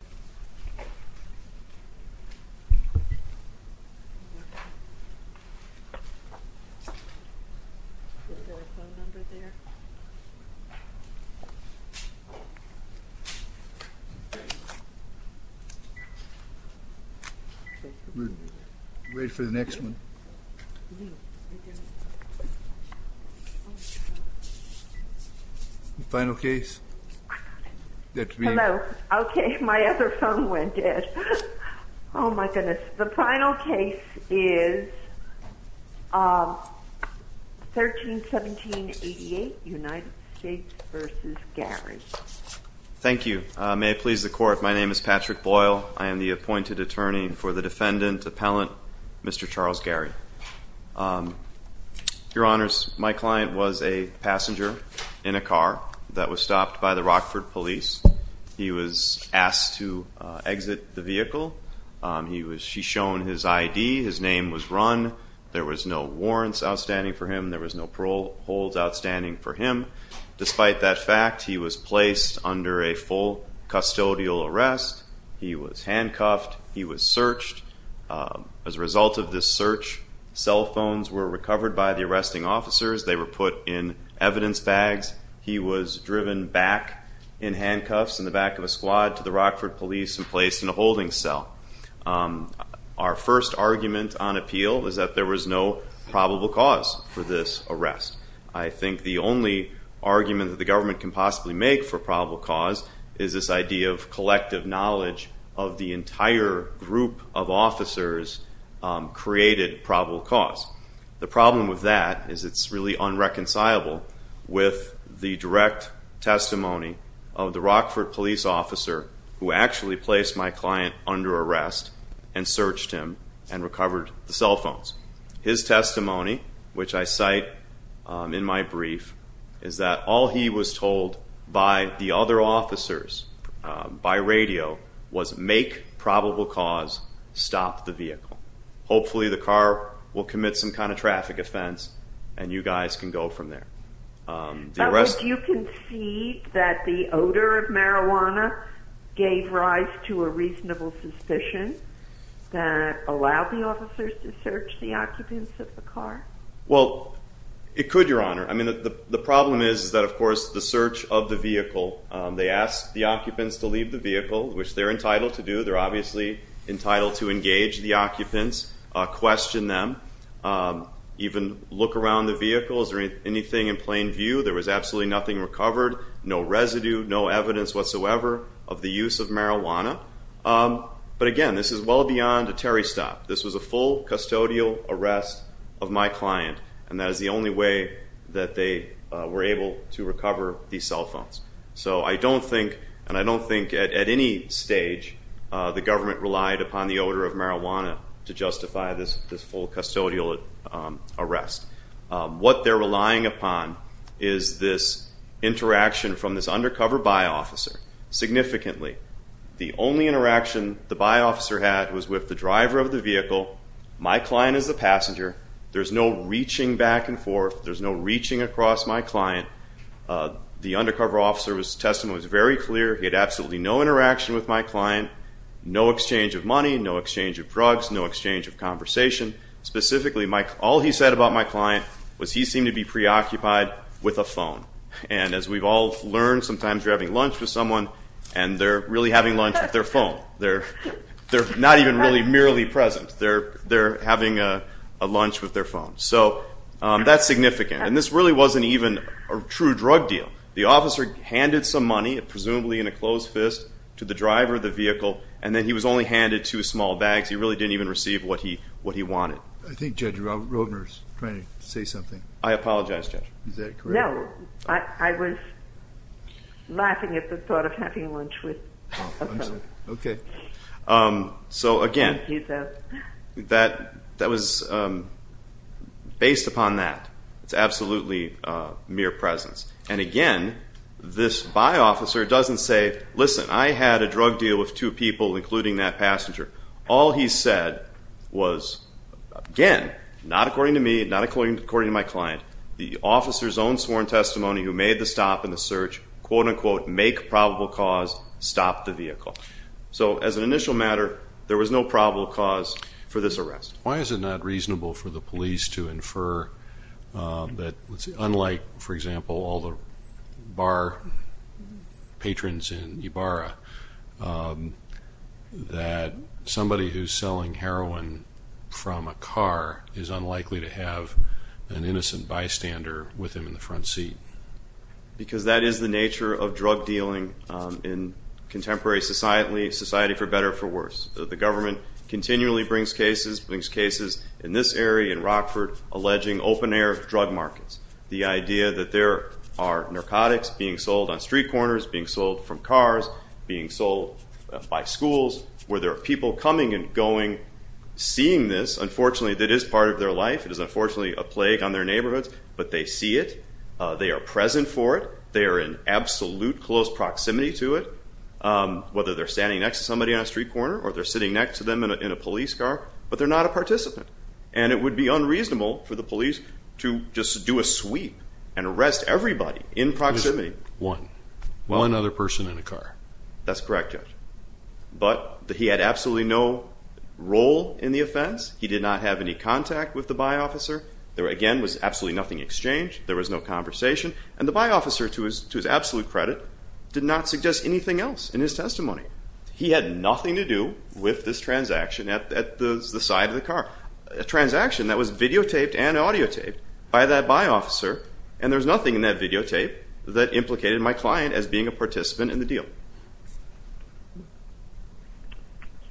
Bryce Advocate Who, wait for the next one? Final case, that we.. My other phone went dead. Oh my goodness. The final case is 13-17-88 United States vs. Gary Thank you. May it please the court, my name is Patrick Boyle. I am the appointed attorney for the defendant, appellant, Mr. Charles Gary. Your honors, my client was a passenger in a car that was stopped by the Rockford police. He was asked to exit the vehicle. He was shown his ID, his name was run, there was no warrants outstanding for him, there was no parole holds outstanding for him. Despite that fact, he was placed under a full custodial arrest, he was handcuffed, he was searched. As a result of this search, cell phones were recovered by the arresting officers, they were put in evidence bags. He was driven back in handcuffs in the back of a squad to the Rockford police and placed in a holding cell. Our first argument on appeal is that there was no probable cause for this arrest. I think the only argument that the government can possibly make for probable cause is this idea of collective knowledge of the entire group of officers created probable cause. The problem with that is it's really unreconcilable with the direct testimony of the Rockford police officer who actually placed my client under arrest and searched him and recovered the cell phones. His testimony, which I cite in my brief, is that all he was told by the other officers, by radio, was make probable cause, stop the vehicle. Hopefully the car will commit some kind of traffic offense and you guys can go from there. Did you concede that the odor of marijuana gave rise to a reasonable suspicion that allowed the officers to search the occupants of the car? Well, it could, Your Honor. The problem is that, of course, the search of the vehicle, they asked the occupants to leave the vehicle, which they're entitled to do. They're obviously entitled to engage the occupants, question them, even look around the vehicles or anything in plain view. There was absolutely nothing recovered, no residue, no evidence whatsoever of the use of marijuana. But again, this is well beyond a Terry stop. This was a full custodial arrest of my client and that is the only way that they were able to recover these cell phones. So I don't think, and I don't think at any stage, the government relied upon the odor of marijuana to justify this full custodial arrest. What they're relying upon is this interaction from this undercover by-officer significantly. The only interaction the by-officer had was with the driver of the vehicle, my client as the passenger. There's no reaching back and forth. There's no reaching across my client. The undercover officer's testimony was very clear. He had absolutely no interaction with my client, no exchange of money, no exchange of drugs, no exchange of conversation. Specifically, all he said about my client was he seemed to be preoccupied with a phone. And as we've all learned, sometimes you're having lunch with someone and they're really having lunch with their phone. They're not even really merely present. They're having a lunch with their phone. So that's significant. And this really wasn't even a true drug deal. The officer handed some money, presumably in a closed fist, to the driver of the vehicle. And then he was only handed two small bags. He really didn't even receive what he wanted. I think Judge Roedner's trying to say something. I apologize, Judge. Is that correct? No. I was laughing at the thought of having lunch with a phone. So again, that was based upon that. It's absolutely mere presence. And again, this by-officer doesn't say, listen, I had a drug deal with two people, including that passenger. All he said was, again, not according to me, not according to my client, the officer's own sworn testimony who made the stop in the search, quote-unquote, make probable cause, stop the vehicle. So as an initial matter, there was no probable cause for this arrest. Why is it not reasonable for the police to infer that, unlike, for example, all the bar patrons in Ybarra, that somebody who's selling heroin from a car is unlikely to have an innocent bystander with him in the front seat? Because that is the nature of drug dealing in contemporary society, society for better or for worse. The government continually brings cases, brings cases in this area, in Rockford, alleging open-air drug markets. The idea that there are narcotics being sold on street corners, being sold from cars, being sold by schools, where there are people coming and going, seeing this, unfortunately, that is part of their life. It is unfortunately a plague on their neighborhoods, but they see it. They are present for it. They are in absolute close proximity to it, whether they're standing next to somebody on a street corner or they're sitting next to them in a police car. But they're not a participant. And it would be unreasonable for the police to just do a sweep and arrest everybody in proximity. One. One other person in a car. That's correct, Judge. But he had absolutely no role in the offense. He did not have any contact with the by-officer. There, again, was absolutely nothing exchanged. There was no conversation. And the by-officer, to his absolute credit, did not suggest anything else in his testimony. He had nothing to do with this transaction at the side of the car, a transaction that was videotaped and audiotaped by that by-officer. And there was nothing in that videotape that implicated my client as being a participant in the deal.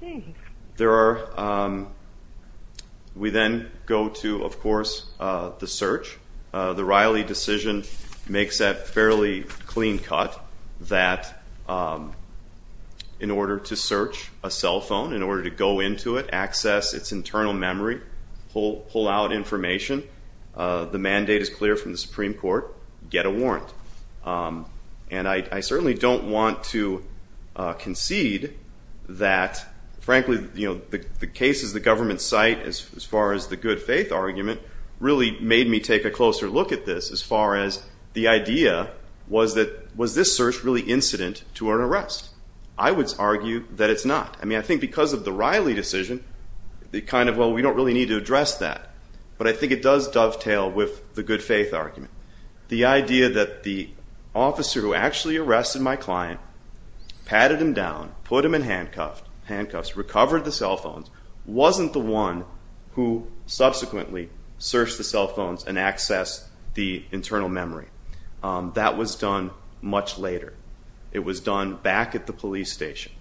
Okay. We then go to, of course, the search. The Riley decision makes that fairly clean cut that in order to search a cell phone, in order to go into it, access its internal memory, pull out information, the mandate is clear from the Supreme Court, get a warrant. And I certainly don't want to concede that, frankly, the cases the government cite, as far as the good faith argument, really made me take a closer look at this as far as the idea was that, was this search really incident to an arrest? I would argue that it's not. I mean, I think because of the Riley decision, it kind of, well, we don't really need to address that. But I think it does dovetail with the good faith argument. The idea that the officer who actually arrested my client, patted him down, put him in handcuffs, recovered the cell phones, wasn't the one who subsequently searched the cell phones and accessed the internal memory. That was done much later. It was done back at the police station.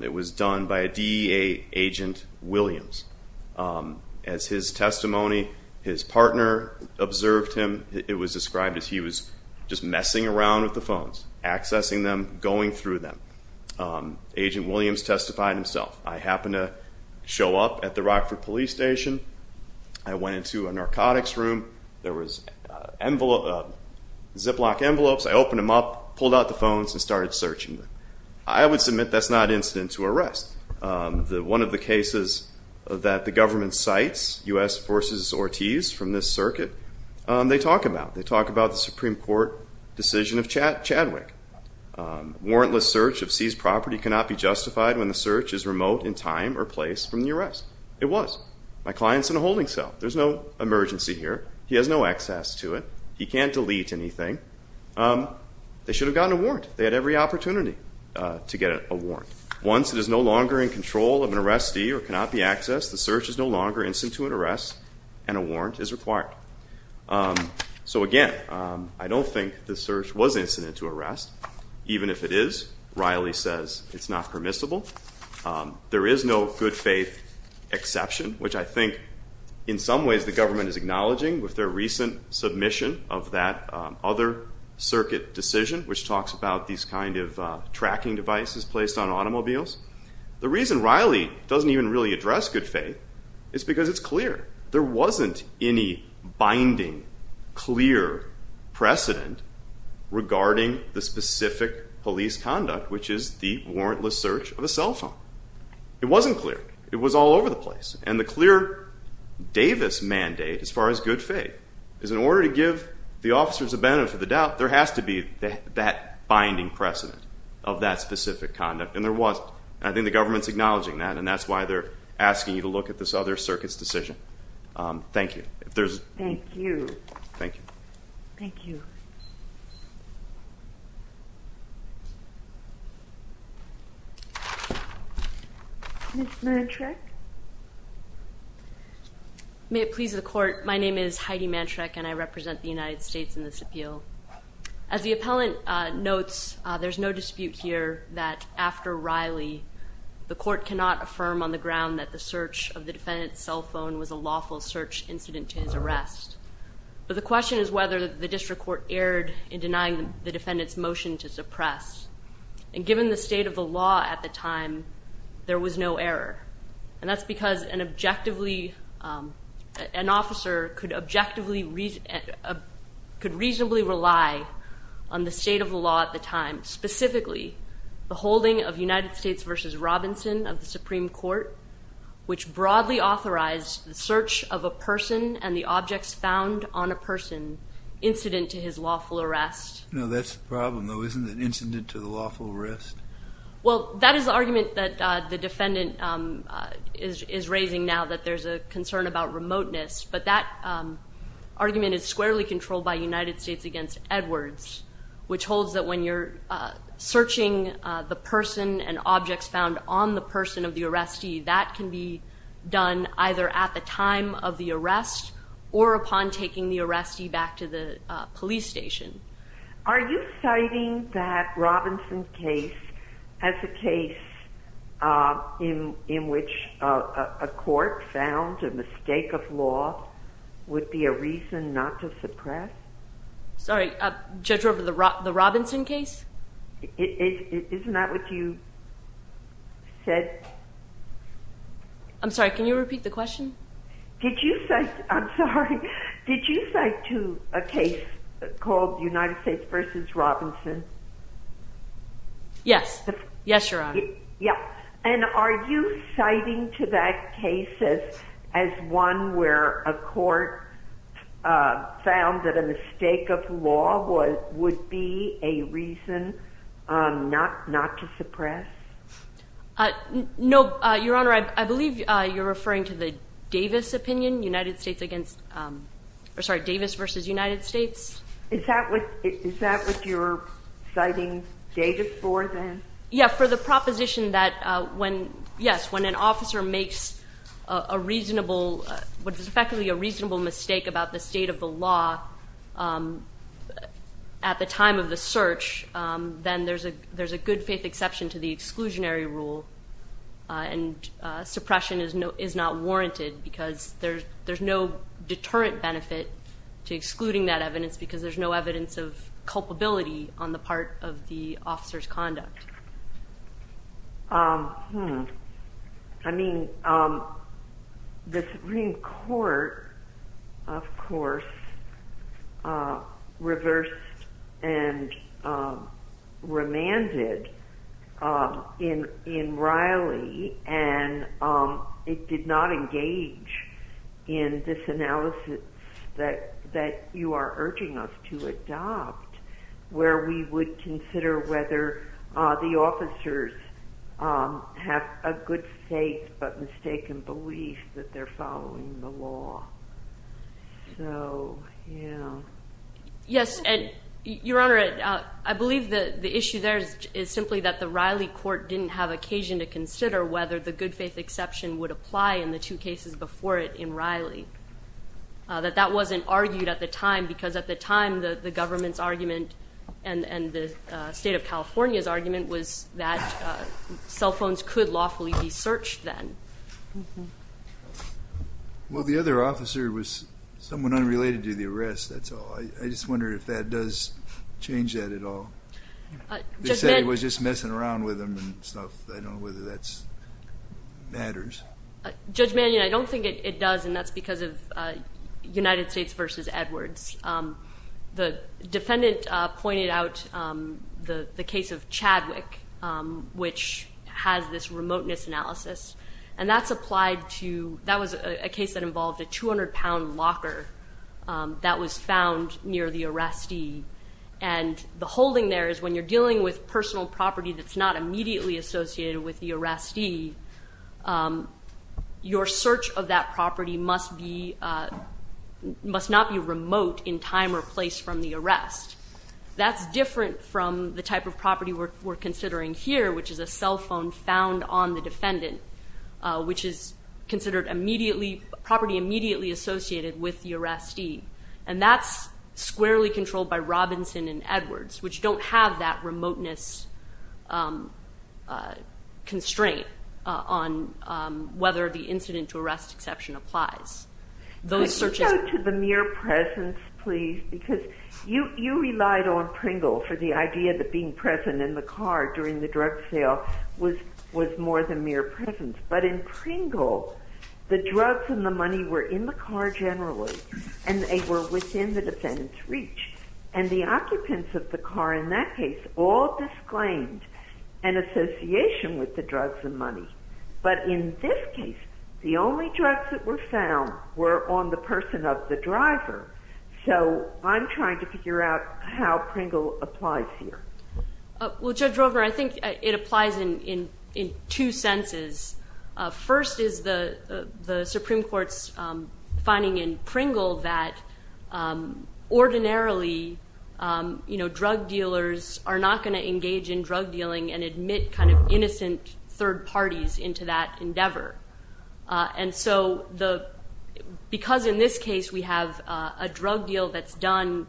It was done by a DEA agent, Williams. As his testimony, his partner observed him, it was described as he was just messing around with the phones, accessing them, going through them. Agent Williams testified himself. I happened to show up at the Rockford police station. I went into a narcotics room. There was a Ziploc envelopes. I opened them up, pulled out the phones and started searching them. I would submit that's not incident to arrest. One of the cases that the government cites, U.S. Forces Ortiz from this circuit, they talk about. They talk about the Supreme Court decision of Chadwick. Warrantless search of seized property cannot be justified when the search is remote in time or place from the arrest. It was. My client's in a holding cell. There's no emergency here. He has no access to it. He can't delete anything. They should have gotten a warrant. They had every opportunity to get a warrant. Once it is no longer in control of an arrestee or cannot be accessed, the search is no longer incident to arrest and a warrant is required. So again, I don't think the search was incident to arrest. Even if it is, Riley says it's not permissible. There is no good faith exception, which I think in some ways the government is acknowledging with their recent submission of that other circuit decision, which talks about these kind of tracking devices placed on automobiles. The reason Riley doesn't even really address good faith is because it's clear there wasn't any binding clear precedent regarding the specific police conduct, which is the warrantless search of a cell phone. It wasn't clear. It was all over the place. And the clear Davis mandate, as far as good faith, is in order to give the officers a benefit of the doubt, there has to be that binding precedent of that specific conduct. And there was. And I think the government's acknowledging that, and that's why they're asking you to look at this other case. Ms. Mantrek? May it please the court. My name is Heidi Mantrek, and I represent the United States in this appeal. As the appellant notes, there's no dispute here that after Riley, the court cannot have erred in denying the defendant's motion to suppress. And given the state of the law at the time, there was no error. And that's because an objectively, an officer could reasonably rely on the state of the law at the time, specifically the holding of United States v. Robinson of the Supreme Court, which broadly authorized the search of a person and the objects found on a person, incident to his lawful arrest. No, that's the problem, though, isn't it? Incident to the lawful arrest? Well, that is the argument that the defendant is raising now, that there's a concern about remoteness. But that argument is squarely controlled by United States v. Edwards, which holds that when you're on either at the time of the arrest or upon taking the arrestee back to the police station. Are you citing that Robinson case as a case in which a court found a mistake of law would be a reason not to suppress? Sorry, judge, over the Robinson case? Isn't that what you said? I'm sorry, can you repeat the question? Did you cite to a case called United States v. Robinson? Yes. Yes, Your Honor. And are you citing to that case as one where a court found that a mistake of law would be a reason not to suppress? No, Your Honor, I believe you're referring to the Davis opinion, Davis v. United States. Is that what you're citing Davis for then? Yeah, for the proposition that when, yes, when an officer makes a reasonable, what is effectively a reasonable mistake about the state of the law at the time of the search, then there's a good faith exception to the exclusionary rule, and suppression is not warranted because there's no deterrent benefit to excluding that evidence because there's no evidence of culpability on the part of the officer's conduct. I mean, the Supreme Court, of course, reversed and in Riley, and it did not engage in this analysis that you are urging us to adopt, where we would consider whether the officers have a good faith but mistaken belief that they're following the law. Yes, and Your Honor, I believe the issue there is simply that the Riley court didn't have occasion to consider whether the good faith exception would apply in the two cases before it in Riley, that that wasn't argued at the time because at the time the government's argument and the state of California's argument was that cell phones could lawfully be searched then. Well, the other officer was someone unrelated to the arrest, that's all. I just wonder if that does change that at all. They said it was just messing around with them and stuff. I don't know whether that matters. Judge Mannion, I don't think it does, and that's because of United States v. Edwards. The defendant pointed out the case of Chadwick, which has this remoteness analysis, and that's applied to, that was a case that involved a 200 pound locker that was found near the arrestee, and the holding there is when you're dealing with personal property that's not immediately associated with the arrestee, your search of that property must not be remote in time or place from the arrest. That's different from the type of property we're considering here, which is a cell phone found on the defendant, which is considered immediately, property immediately associated with the arrestee, and that's squarely controlled by Robinson and on whether the incident to arrest exception applies. Could you go to the mere presence, please, because you relied on Pringle for the idea that being present in the car during the drug sale was more than mere presence, but in Pringle, the drugs and the money were in the car generally, and they were within the defendant's reach, and the occupants of the car in that case all disclaimed an association with the drugs and money, but in this case, the only drugs that were found were on the person of the driver, so I'm trying to figure out how Pringle applies here. Well Judge Roper, I think it applies in two senses. First is the Supreme Court's finding in Pringle that ordinarily drug dealers are not going to engage in drug dealing and admit kind of innocent third parties into that endeavor, and so because in this case we have a drug deal that's done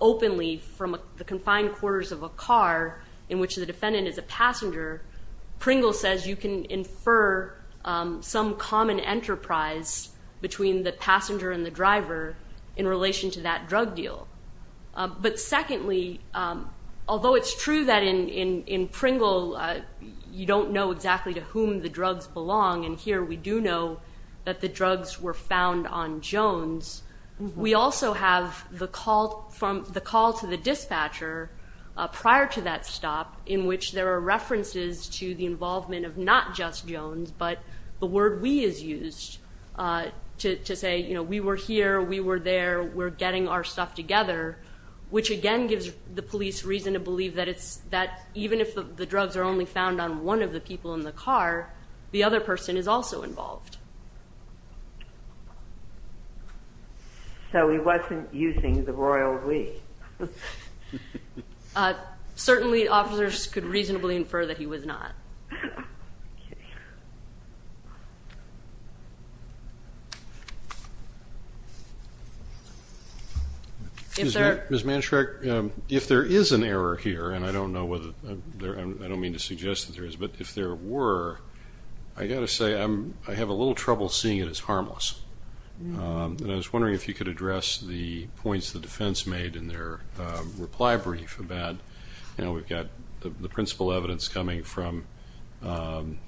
openly from the confined quarters of a car in which the defendant is a passenger, Pringle says you can infer some common enterprise between the passenger and the driver in relation to that drug deal. But secondly, although it's true that in Pringle you don't know exactly to whom the drugs belong, and here we do know that the drugs were found on Jones, we also have the call to the dispatcher prior to that stop in which there are references to the involvement of not just Jones, but the word we is used to say we were here, we were there, we're getting our stuff together, which again gives the police reason to believe that even if the drugs are only found on one of the people in the car, the other person is also involved. So he wasn't using the royal we. Certainly officers could reasonably infer that he was not. Ms. Manshrek, if there is an error here, and I don't know whether, I don't mean to suggest that there is, but if there were, I've got to say I have a little trouble seeing it as harmless. And I was wondering if you could address the points the defense made in their reply brief about, you know, we've got the principal evidence coming from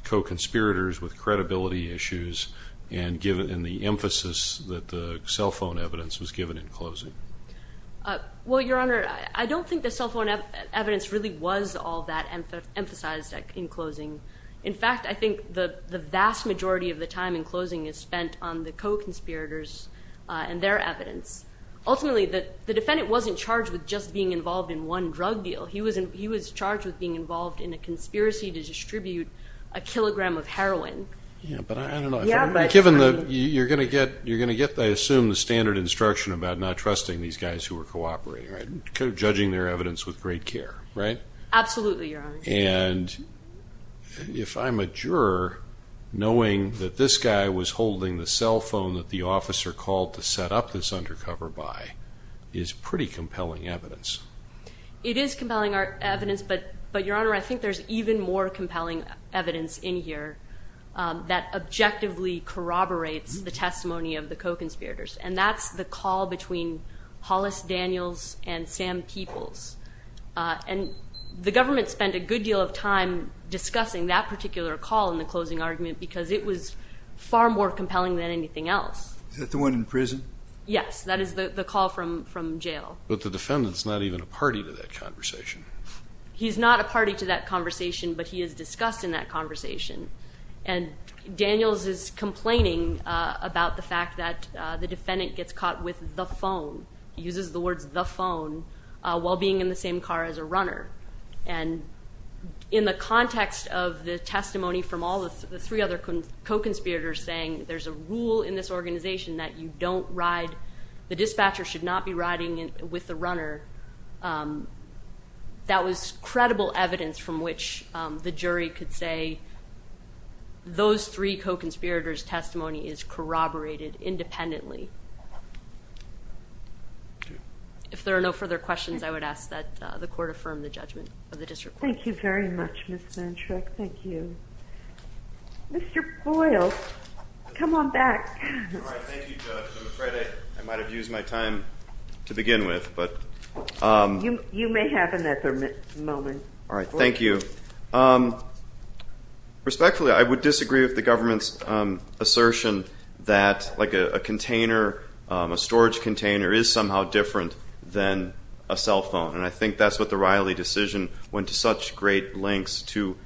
co-conspirators with credibility issues and the emphasis that the cell phone evidence was given in closing. Well, Your Honor, I don't think the cell phone evidence really was all that emphasized in closing. In fact, I think the vast majority of the time in closing is spent on the co-conspirators and their evidence. Ultimately, the defendant wasn't charged with just being involved in one drug deal. He was charged with being involved in a conspiracy to distribute a kilogram of heroin. Given that you're going to get, I assume, the standard instruction about not trusting these guys who were cooperating, judging their evidence with great care, right? Absolutely, Your Honor. And if I'm a juror, knowing that this guy was holding the cell phone that the officer called to set up this undercover by is pretty compelling evidence. It is compelling evidence, but Your Honor, I think there's even more compelling evidence in here that objectively corroborates the testimony of the co-conspirators. And that's the call between Hollis Daniels and Sam Peoples. And the government spent a good deal of time discussing that particular call in the closing argument because it was far more He's not a party to that conversation, but he is discussed in that conversation. And Daniels is complaining about the fact that the defendant gets caught with the phone. He uses the words, the phone, while being in the same car as a runner. And in the context of the testimony from all the three other co-conspirators saying there's a rule in this organization that you don't ride, the dispatcher should not be riding with the runner, that was credible evidence from which the jury could say those three co-conspirators' testimony is corroborated independently. If there are no further questions, I would ask that the Court affirm the judgment of the District Court. Thank you very much, Ms. Manchrek. Thank you. Mr. Boyle, come on back. Thank you, Judge. I'm afraid I might have used my time to begin with. You may have another moment. Thank you. Respectfully, I would disagree with the government's assertion that a container, a storage container, is somehow different than a cell phone. And I think that's what the Riley decision went to such great lengths to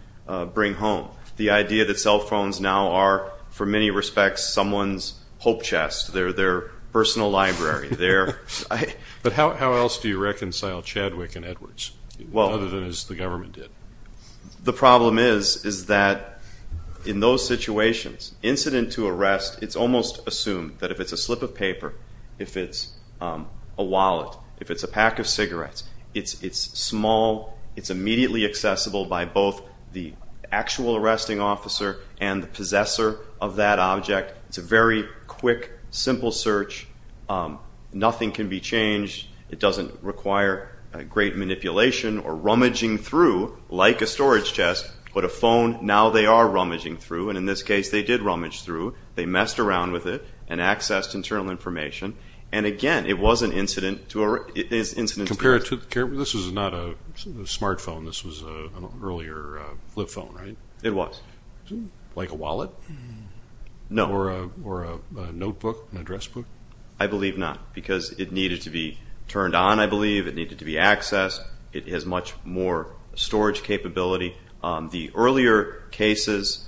bring home. The idea that cell phones now are, for many respects, someone's hope chest. They're their personal library. But how else do you reconcile Chadwick and Edwards, other than as the government did? The problem is that in those situations, incident to arrest, it's almost assumed that if it's a slip of paper, if it's a wallet, if it's a pack of cigarettes, it's small, it's immediately accessible by both the actual arresting officer and the possessor of that object. It's a very quick, simple search. Nothing can be changed. It doesn't require great manipulation or rummaging through, like a storage chest. But a phone, now they are rummaging through. And in this case, they did rummage through. They messed around with it and accessed internal information. And again, it was an incident to arrest. This is not a smartphone. This was an earlier flip phone, right? It was. Like a wallet? No. Or a notebook, an address book? I believe not, because it needed to be turned on, I believe. It needed to be accessed. It has much more storage capability. The earlier cases,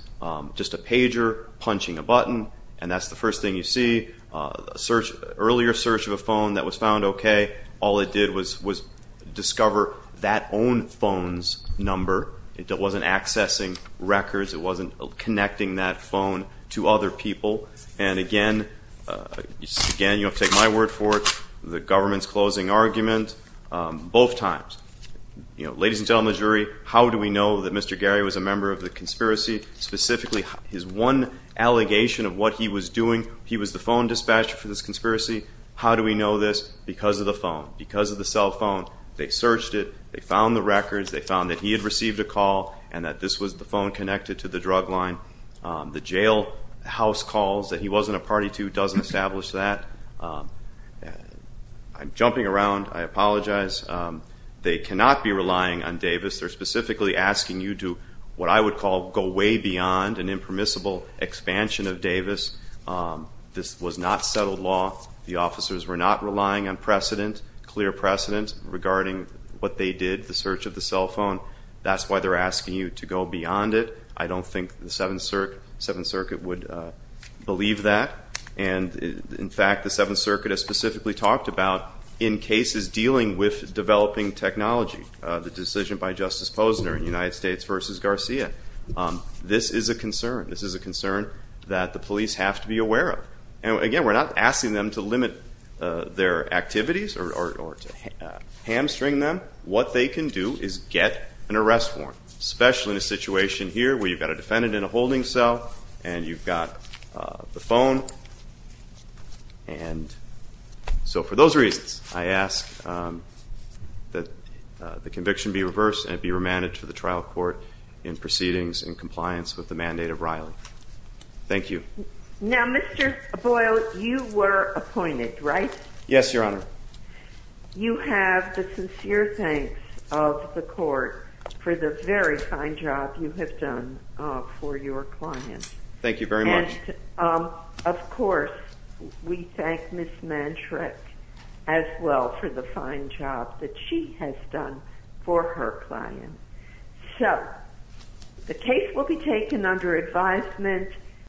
just a pager punching a button, and that's the first thing you see. Earlier search of a phone that was found okay, all it did was discover that own phone's number. It wasn't accessing records. It wasn't connecting that phone to other people. And again, you have to take my word for it, the government's closing argument, both times. Ladies and gentlemen of the jury, how do we know that Mr. Gary was a member of the conspiracy? Specifically, his one allegation of what he was doing, he was the phone dispatcher for this conspiracy. How do we know this? Because of the phone. Because of the cell phone. They searched it. They found the records. They found that he had received a call and that this was the phone connected to the drug line. The jail house calls that he wasn't a party to doesn't establish that. I'm jumping around. I apologize. They cannot be relying on Davis. They're specifically asking you to, what I would call, go way beyond an impermissible expansion of Davis. This was not settled law. The officers were not relying on precedent, clear precedent, regarding what they did, the search of the cell phone. That's why they're asking you to go beyond it. I don't think the Seventh Circuit would believe that. And in fact, the Seventh Circuit has specifically talked about, in cases dealing with developing technology, the decision by Justice Posner in United States v. Garcia. This is a concern. This is a concern that the police have to be aware of. Again, we're not asking them to limit their activities or to hamstring them. What they can do is get an arrest warrant, especially in a situation here where you've got a defendant in a holding cell and you've got the phone. And so for those reasons, I ask that the conviction be reversed and it be remanded to the trial court in proceedings in compliance with the mandate of Riley. Thank you. Now, Mr. Boyle, you were appointed, right? Yes, Your Honor. You have the sincere thanks of the Court for the very fine job you have done for your client. Thank you very much. Of course, we thank Ms. Mantrec as well for the fine job that she has done for her client. So, the case will be taken under advisement.